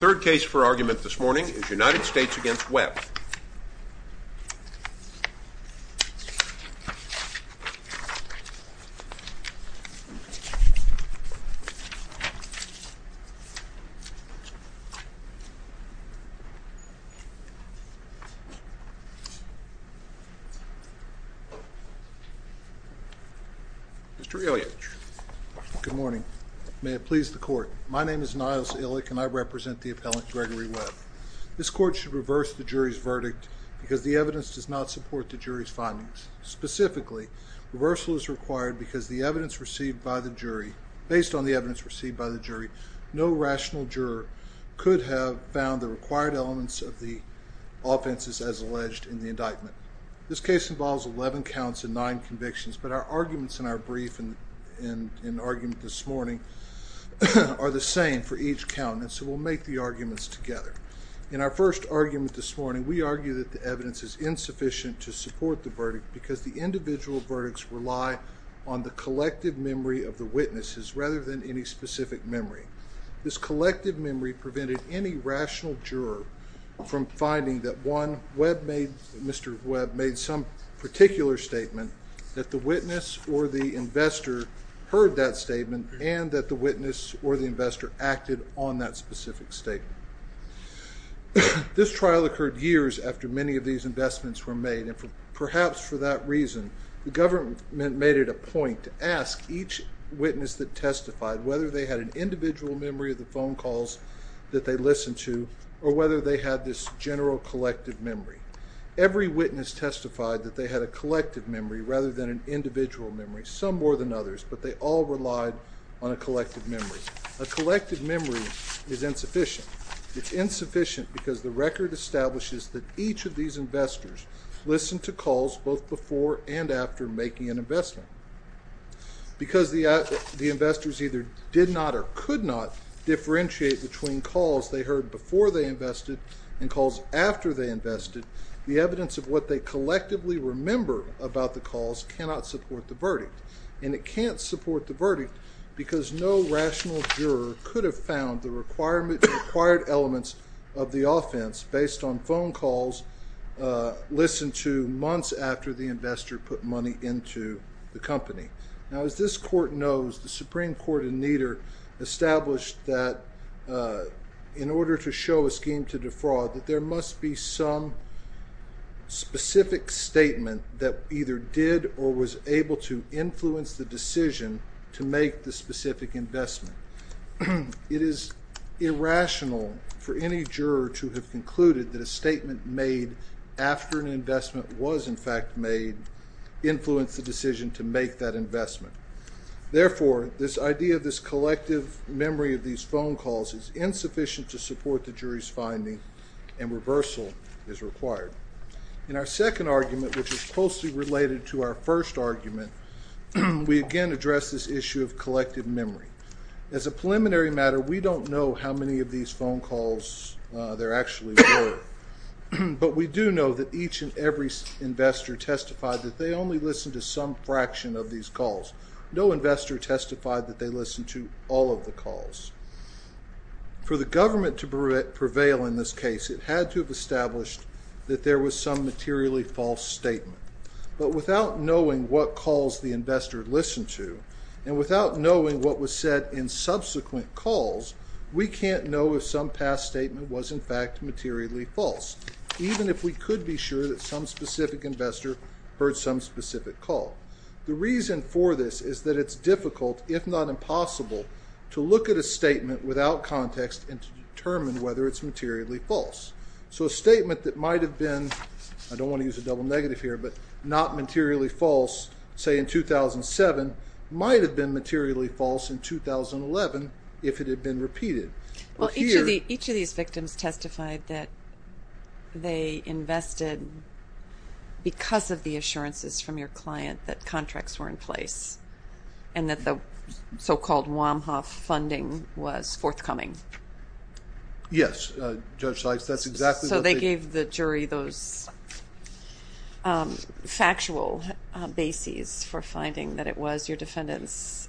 Third case for argument this morning is United States v. Webb. Mr. Ilitch. Good morning. May it please the court. My name is Niles Ilitch and I represent the appellant Gregory Webb. This court should reverse the jury's verdict because the evidence does not support the jury's findings. Specifically, reversal is required because based on the evidence received by the jury, no rational juror could have found the required elements of the offenses as alleged in the indictment. This case involves 11 counts and 9 convictions, but our arguments in our brief and argument this morning are the same for each count, and so we'll make the arguments together. In our first argument this morning, we argued that the evidence is insufficient to support the verdict because the individual verdicts rely on the collective memory of the witnesses rather than any specific memory. This collective memory prevented any rational juror from finding that Mr. Webb made some particular statement, that the witness or the investor heard that statement, and that the witness or the investor acted on that specific statement. This trial occurred years after many of these investments were made, and perhaps for that reason the government made it a point to ask each witness that testified whether they had an individual memory of the phone calls that they listened to or whether they had this general collective memory. Every witness testified that they had a collective memory rather than an individual memory, some more than others, but they all relied on a collective memory. A collective memory is insufficient. It's insufficient because the record establishes that each of these investors listened to calls both before and after making an investment. Because the investors either did not or could not differentiate between calls they heard before they invested and calls after they invested, the evidence of what they collectively remember about the calls cannot support the verdict. And it can't support the verdict because no rational juror could have found the required elements of the offense based on phone calls listened to months after the investor put money into the company. Now, as this Court knows, the Supreme Court in Nieder established that in order to show a scheme to defraud, that there must be some specific statement that either did or was able to influence the decision to make the specific investment. It is irrational for any juror to have concluded that a statement made after an investment was in fact made influenced the decision to make that investment. Therefore, this idea of this collective memory of these phone calls is insufficient to support the jury's finding, and reversal is required. In our second argument, which is closely related to our first argument, we again address this issue of collective memory. As a preliminary matter, we don't know how many of these phone calls there actually were. But we do know that each and every investor testified that they only listened to some fraction of these calls. No investor testified that they listened to all of the calls. For the government to prevail in this case, it had to have established that there was some materially false statement. But without knowing what calls the investor listened to, and without knowing what was said in subsequent calls, we can't know if some past statement was in fact materially false, even if we could be sure that some specific investor heard some specific call. The reason for this is that it's difficult, if not impossible, to look at a statement without context and to determine whether it's materially false. So a statement that might have been, I don't want to use a double negative here, but not materially false, say in 2007, might have been materially false in 2011 if it had been repeated. Each of these victims testified that they invested because of the assurances from your client that contracts were in place and that the so-called Womhoff funding was forthcoming. Yes, Judge Sykes. So they gave the jury those factual bases for finding that it was your defendant's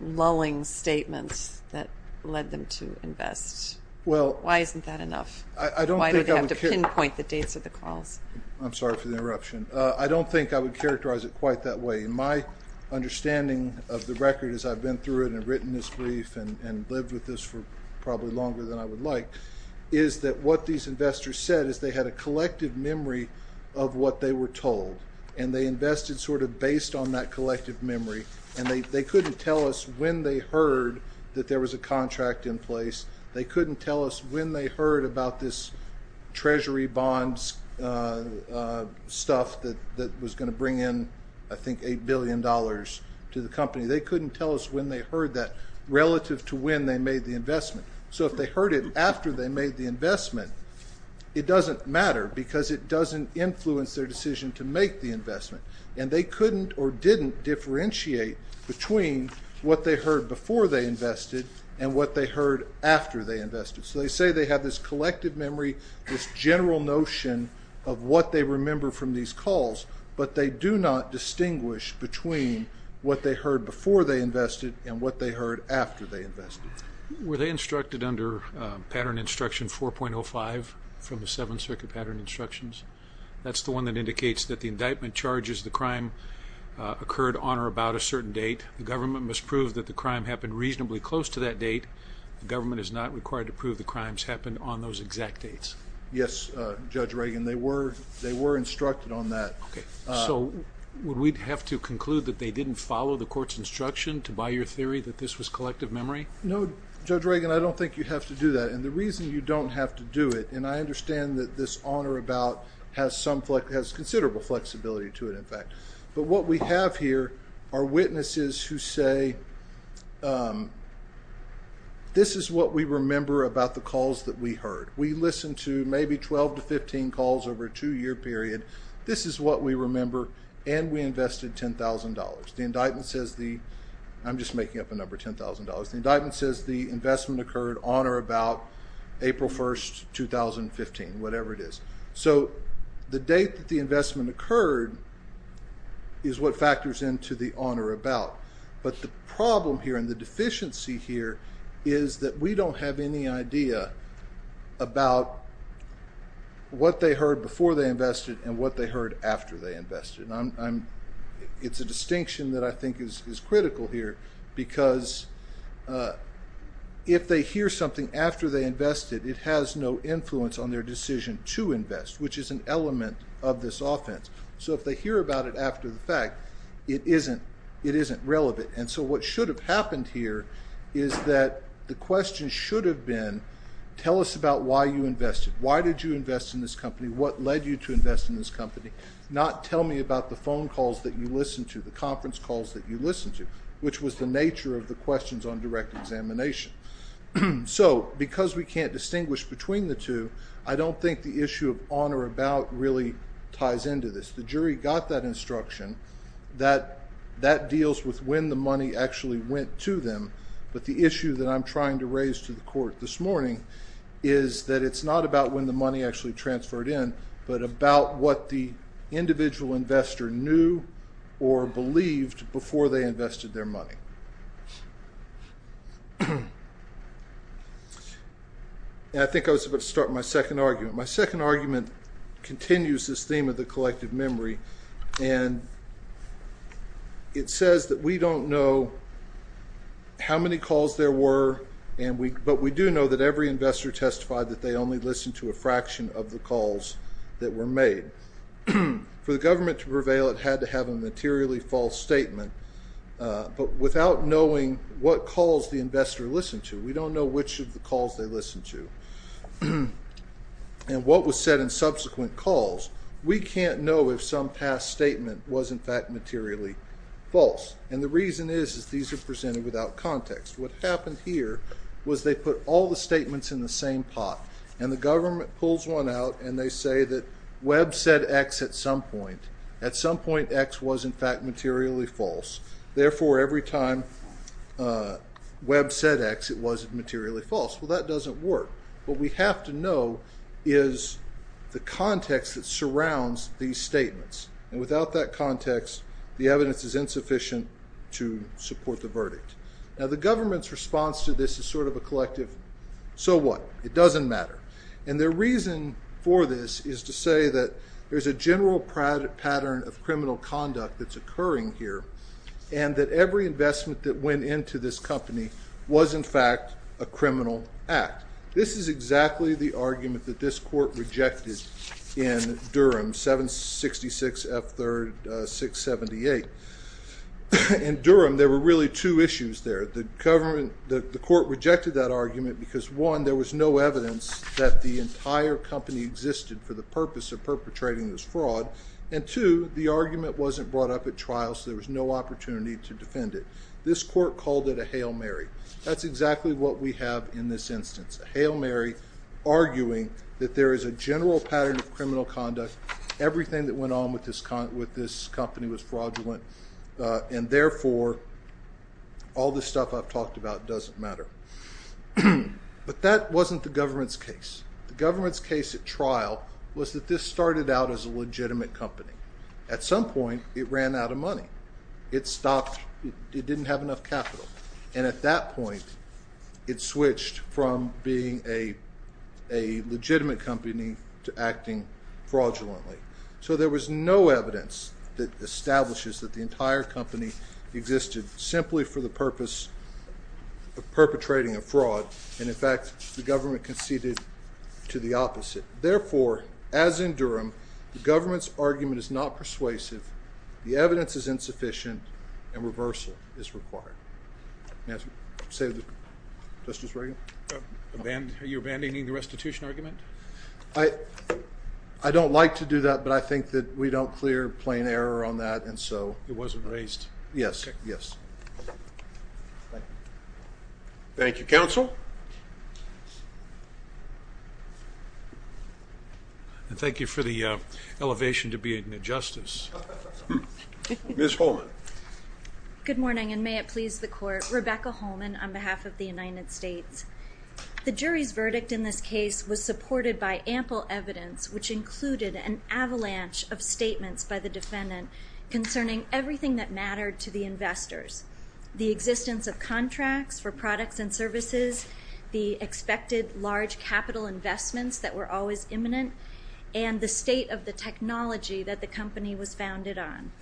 lulling statements that led them to invest. Why isn't that enough? Why do they have to pinpoint the dates of the calls? I'm sorry for the interruption. I don't think I would characterize it quite that way. My understanding of the record as I've been through it and written this brief and lived with this for probably longer than I would like is that what these investors said is they had a collective memory of what they were told, and they invested sort of based on that collective memory, and they couldn't tell us when they heard that there was a contract in place. They couldn't tell us when they heard about this Treasury bonds stuff that was going to bring in, I think, $8 billion to the company. They couldn't tell us when they heard that relative to when they made the investment. So if they heard it after they made the investment, it doesn't matter because it doesn't influence their decision to make the investment, and they couldn't or didn't differentiate between what they heard before they invested and what they heard after they invested. So they say they have this collective memory, this general notion of what they remember from these calls, but they do not distinguish between what they heard before they invested and what they heard after they invested. Were they instructed under Pattern Instruction 4.05 from the Seven Circuit Pattern Instructions? That's the one that indicates that the indictment charges the crime occurred on or about a certain date. The government must prove that the crime happened reasonably close to that date. The government is not required to prove the crimes happened on those exact dates. Yes, Judge Reagan, they were instructed on that. So would we have to conclude that they didn't follow the court's instruction to buy your theory that this was collective memory? No, Judge Reagan, I don't think you have to do that. And the reason you don't have to do it, and I understand that this on or about has considerable flexibility to it, in fact, but what we have here are witnesses who say this is what we remember about the calls that we heard. We listened to maybe 12 to 15 calls over a two-year period. This is what we remember, and we invested $10,000. The indictment says the – I'm just making up a number, $10,000. The indictment says the investment occurred on or about April 1, 2015, whatever it is. So the date that the investment occurred is what factors into the on or about. But the problem here and the deficiency here is that we don't have any idea about what they heard before they invested and it's a distinction that I think is critical here because if they hear something after they invested, it has no influence on their decision to invest, which is an element of this offense. So if they hear about it after the fact, it isn't relevant. And so what should have happened here is that the question should have been tell us about why you invested. Why did you invest in this company? What led you to invest in this company? Not tell me about the phone calls that you listened to, the conference calls that you listened to, which was the nature of the questions on direct examination. So because we can't distinguish between the two, I don't think the issue of on or about really ties into this. The jury got that instruction that that deals with when the money actually went to them, but the issue that I'm trying to raise to the court this morning is that it's not about when the money actually transferred in but about what the individual investor knew or believed before they invested their money. I think I was about to start my second argument. My second argument continues this theme of the collective memory, and it says that we don't know how many calls there were, but we do know that every investor testified that they only listened to a fraction of the calls that were made. For the government to prevail, it had to have a materially false statement, but without knowing what calls the investor listened to, we don't know which of the calls they listened to and what was said in subsequent calls. We can't know if some past statement was, in fact, materially false, and the reason is that these are presented without context. What happened here was they put all the statements in the same pot, and the government pulls one out, and they say that Webb said X at some point. At some point, X was, in fact, materially false. Therefore, every time Webb said X, it was materially false. Well, that doesn't work. What we have to know is the context that surrounds these statements, Now, the government's response to this is sort of a collective, so what? It doesn't matter. And their reason for this is to say that there's a general pattern of criminal conduct that's occurring here and that every investment that went into this company was, in fact, a criminal act. This is exactly the argument that this court rejected in Durham, 766 F. 3rd, 678. In Durham, there were really two issues there. The court rejected that argument because, one, there was no evidence that the entire company existed for the purpose of perpetrating this fraud, and, two, the argument wasn't brought up at trial, so there was no opportunity to defend it. This court called it a Hail Mary. That's exactly what we have in this instance, a Hail Mary arguing that there is a general pattern of criminal conduct. Everything that went on with this company was fraudulent, and, therefore, all this stuff I've talked about doesn't matter. But that wasn't the government's case. The government's case at trial was that this started out as a legitimate company. At some point, it ran out of money. It stopped. It didn't have enough capital. And at that point, it switched from being a legitimate company to acting fraudulently. So there was no evidence that establishes that the entire company existed simply for the purpose of perpetrating a fraud, and, in fact, the government conceded to the opposite. Therefore, as in Durham, the government's argument is not persuasive. The evidence is insufficient, and reversal is required. May I say that, Justice Reagan? Are you abandoning the restitution argument? I don't like to do that, but I think that we don't clear plain error on that, and so. It wasn't raised. Yes, yes. Thank you. Thank you, counsel. Thank you for the elevation to being a justice. Ms. Holman. Good morning, and may it please the Court. Rebecca Holman on behalf of the United States. The jury's verdict in this case was supported by ample evidence, which included an avalanche of statements by the defendant concerning everything that mattered to the investors, the existence of contracts for products and services, the expected large capital investments that were always imminent, and the state of the technology that the company was founded on.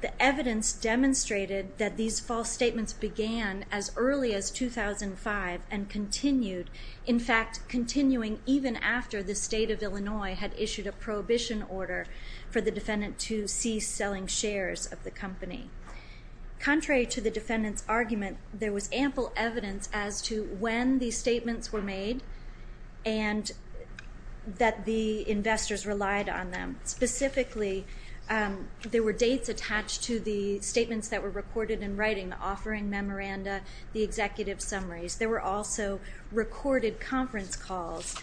The evidence demonstrated that these false statements began as early as 2005 and continued, in fact, continuing even after the state of Illinois had issued a prohibition order for the defendant to cease selling shares of the company. Contrary to the defendant's argument, there was ample evidence as to when these statements were made and that the investors relied on them. Specifically, there were dates attached to the statements that were recorded in writing, the offering memoranda, the executive summaries. There were also recorded conference calls,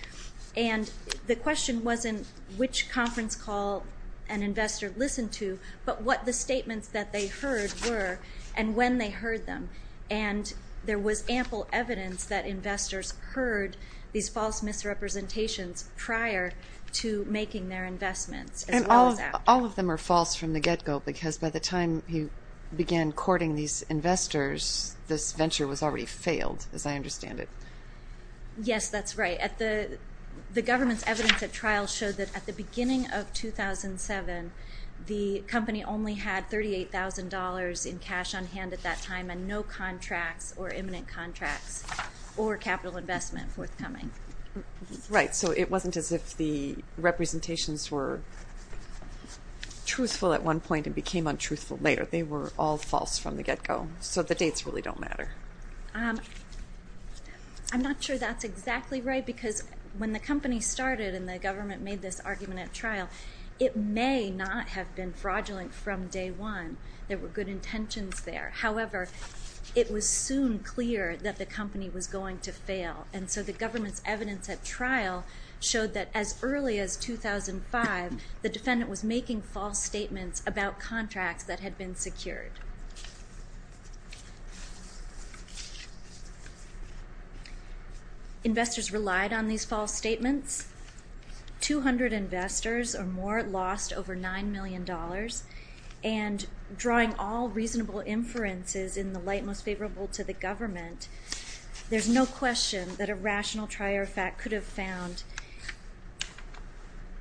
and the question wasn't which conference call an investor listened to, but what the statements that they heard were and when they heard them. And there was ample evidence that investors heard these false misrepresentations prior to making their investments, as well as after. And all of them are false from the get-go, because by the time you began courting these investors, this venture was already failed, as I understand it. Yes, that's right. The government's evidence at trial showed that at the beginning of 2007, the company only had $38,000 in cash on hand at that time and no contracts or imminent contracts or capital investment forthcoming. Right, so it wasn't as if the representations were truthful at one point and became untruthful later. They were all false from the get-go, so the dates really don't matter. I'm not sure that's exactly right, because when the company started and the government made this argument at trial, it may not have been fraudulent from day one. There were good intentions there. However, it was soon clear that the company was going to fail, and so the government's evidence at trial showed that as early as 2005, the defendant was making false statements about contracts that had been secured. Investors relied on these false statements. Two hundred investors or more lost over $9 million, and drawing all reasonable inferences in the light most favorable to the government, there's no question that a rational trier of fact could have found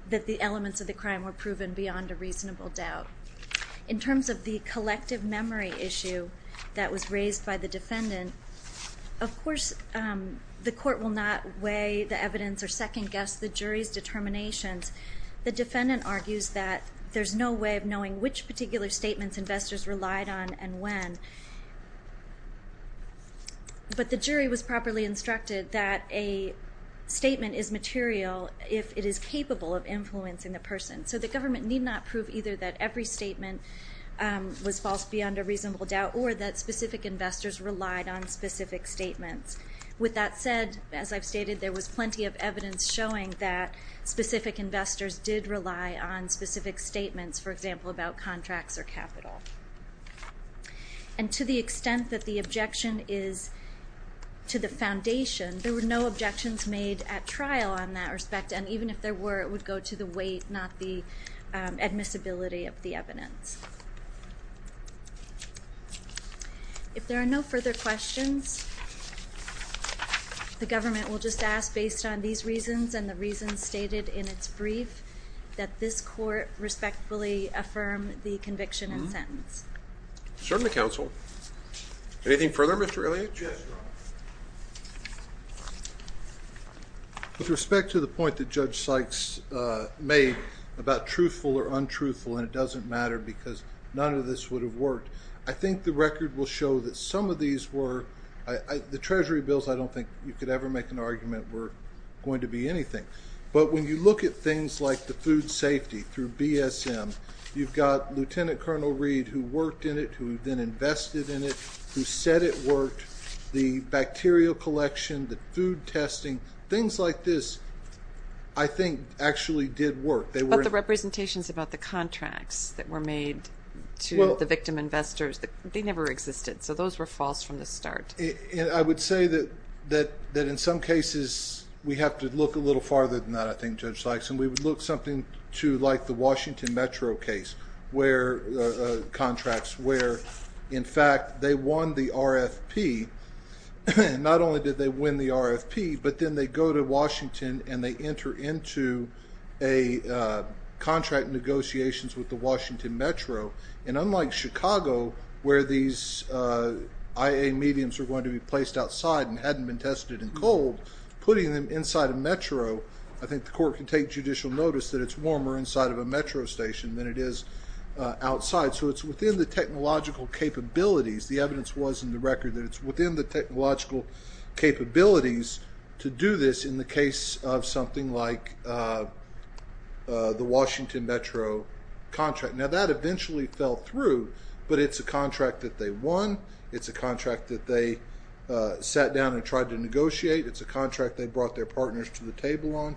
that the elements of the crime were proven beyond a reasonable doubt. In terms of the collective memory issue that was raised by the defendant, of course the court will not weigh the evidence or second-guess the jury's determinations. The defendant argues that there's no way of knowing which particular statements investors relied on and when. But the jury was properly instructed that a statement is material if it is capable of influencing the person. So the government need not prove either that every statement was false beyond a reasonable doubt or that specific investors relied on specific statements. With that said, as I've stated, there was plenty of evidence showing that specific investors did rely on specific statements, for example, about contracts or capital. And to the extent that the objection is to the foundation, there were no objections made at trial on that respect, and even if there were, it would go to the weight, not the admissibility of the evidence. If there are no further questions, the government will just ask, based on these reasons and the reasons stated in its brief, that this court respectfully affirm the conviction and sentence. Certainly, Counsel. Anything further, Mr. Elliott? Yes, Your Honor. With respect to the point that Judge Sykes made about truthful or untruthful, and it doesn't matter because none of this would have worked, I think the record will show that some of these were, the Treasury bills, I don't think you could ever make an argument, were going to be anything. But when you look at things like the food safety through BSM, you've got Lieutenant Colonel Reed, who worked in it, who then invested in it, who said it worked. The bacterial collection, the food testing, things like this, I think, actually did work. But the representations about the contracts that were made to the victim investors, they never existed. So those were false from the start. I would say that in some cases we have to look a little farther than that, I think, Judge Sykes, and we would look something to like the Washington Metro case contracts, where, in fact, they won the RFP. Not only did they win the RFP, but then they go to Washington and they enter into contract negotiations with the Washington Metro. And unlike Chicago, where these IA mediums were going to be placed outside and hadn't been tested in cold, putting them inside a metro, I think the court can take judicial notice that it's warmer inside of a metro station than it is outside. So it's within the technological capabilities, the evidence was in the record, that it's within the technological capabilities to do this in the case of something like the Washington Metro contract. Now, that eventually fell through, but it's a contract that they won. It's a contract that they sat down and tried to negotiate. It's a contract they brought their partners to the table on.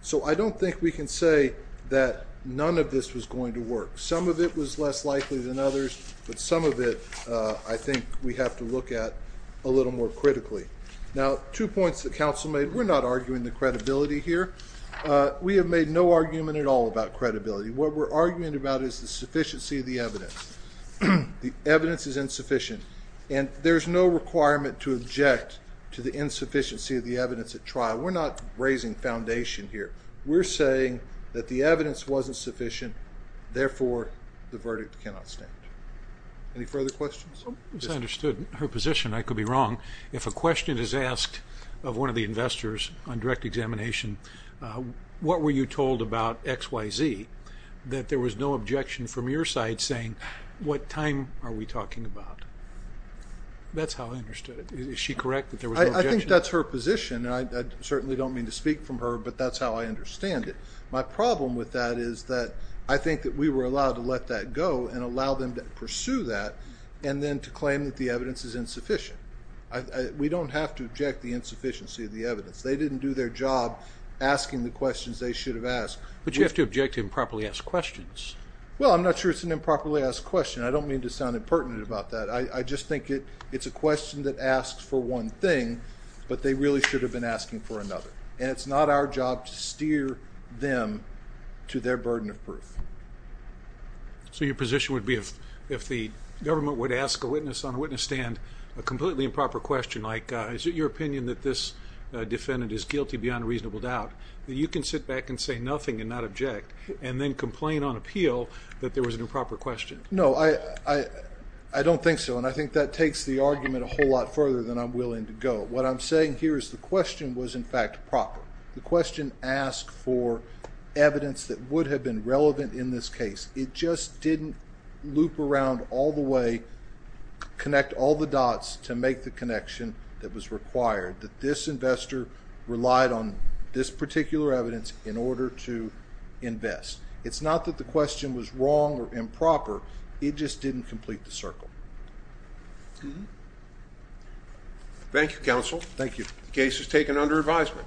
So I don't think we can say that none of this was going to work. Some of it was less likely than others, but some of it I think we have to look at a little more critically. Now, two points that counsel made. We're not arguing the credibility here. We have made no argument at all about credibility. What we're arguing about is the sufficiency of the evidence. The evidence is insufficient, and there's no requirement to object to the insufficiency of the evidence at trial. We're not raising foundation here. We're saying that the evidence wasn't sufficient, therefore the verdict cannot stand. Any further questions? As I understood her position, I could be wrong. If a question is asked of one of the investors on direct examination, what were you told about XYZ, that there was no objection from your side saying, what time are we talking about? That's how I understood it. Is she correct that there was no objection? I think that's her position, and I certainly don't mean to speak from her, but that's how I understand it. My problem with that is that I think that we were allowed to let that go and allow them to pursue that and then to claim that the evidence is insufficient. We don't have to object the insufficiency of the evidence. They didn't do their job asking the questions they should have asked. But you have to object to improperly asked questions. Well, I'm not sure it's an improperly asked question. I don't mean to sound impertinent about that. I just think it's a question that asks for one thing, but they really should have been asking for another, and it's not our job to steer them to their burden of proof. So your position would be if the government would ask a witness on a witness stand a completely improper question, like is it your opinion that this defendant is guilty beyond reasonable doubt, that you can sit back and say nothing and not object and then complain on appeal that there was an improper question? No, I don't think so, and I think that takes the argument a whole lot further than I'm willing to go. What I'm saying here is the question was, in fact, proper. The question asked for evidence that would have been relevant in this case. It just didn't loop around all the way, connect all the dots to make the connection that was required, that this investor relied on this particular evidence in order to invest. It's not that the question was wrong or improper. It just didn't complete the circle. Thank you, Counsel. Thank you. The case is taken under advisement.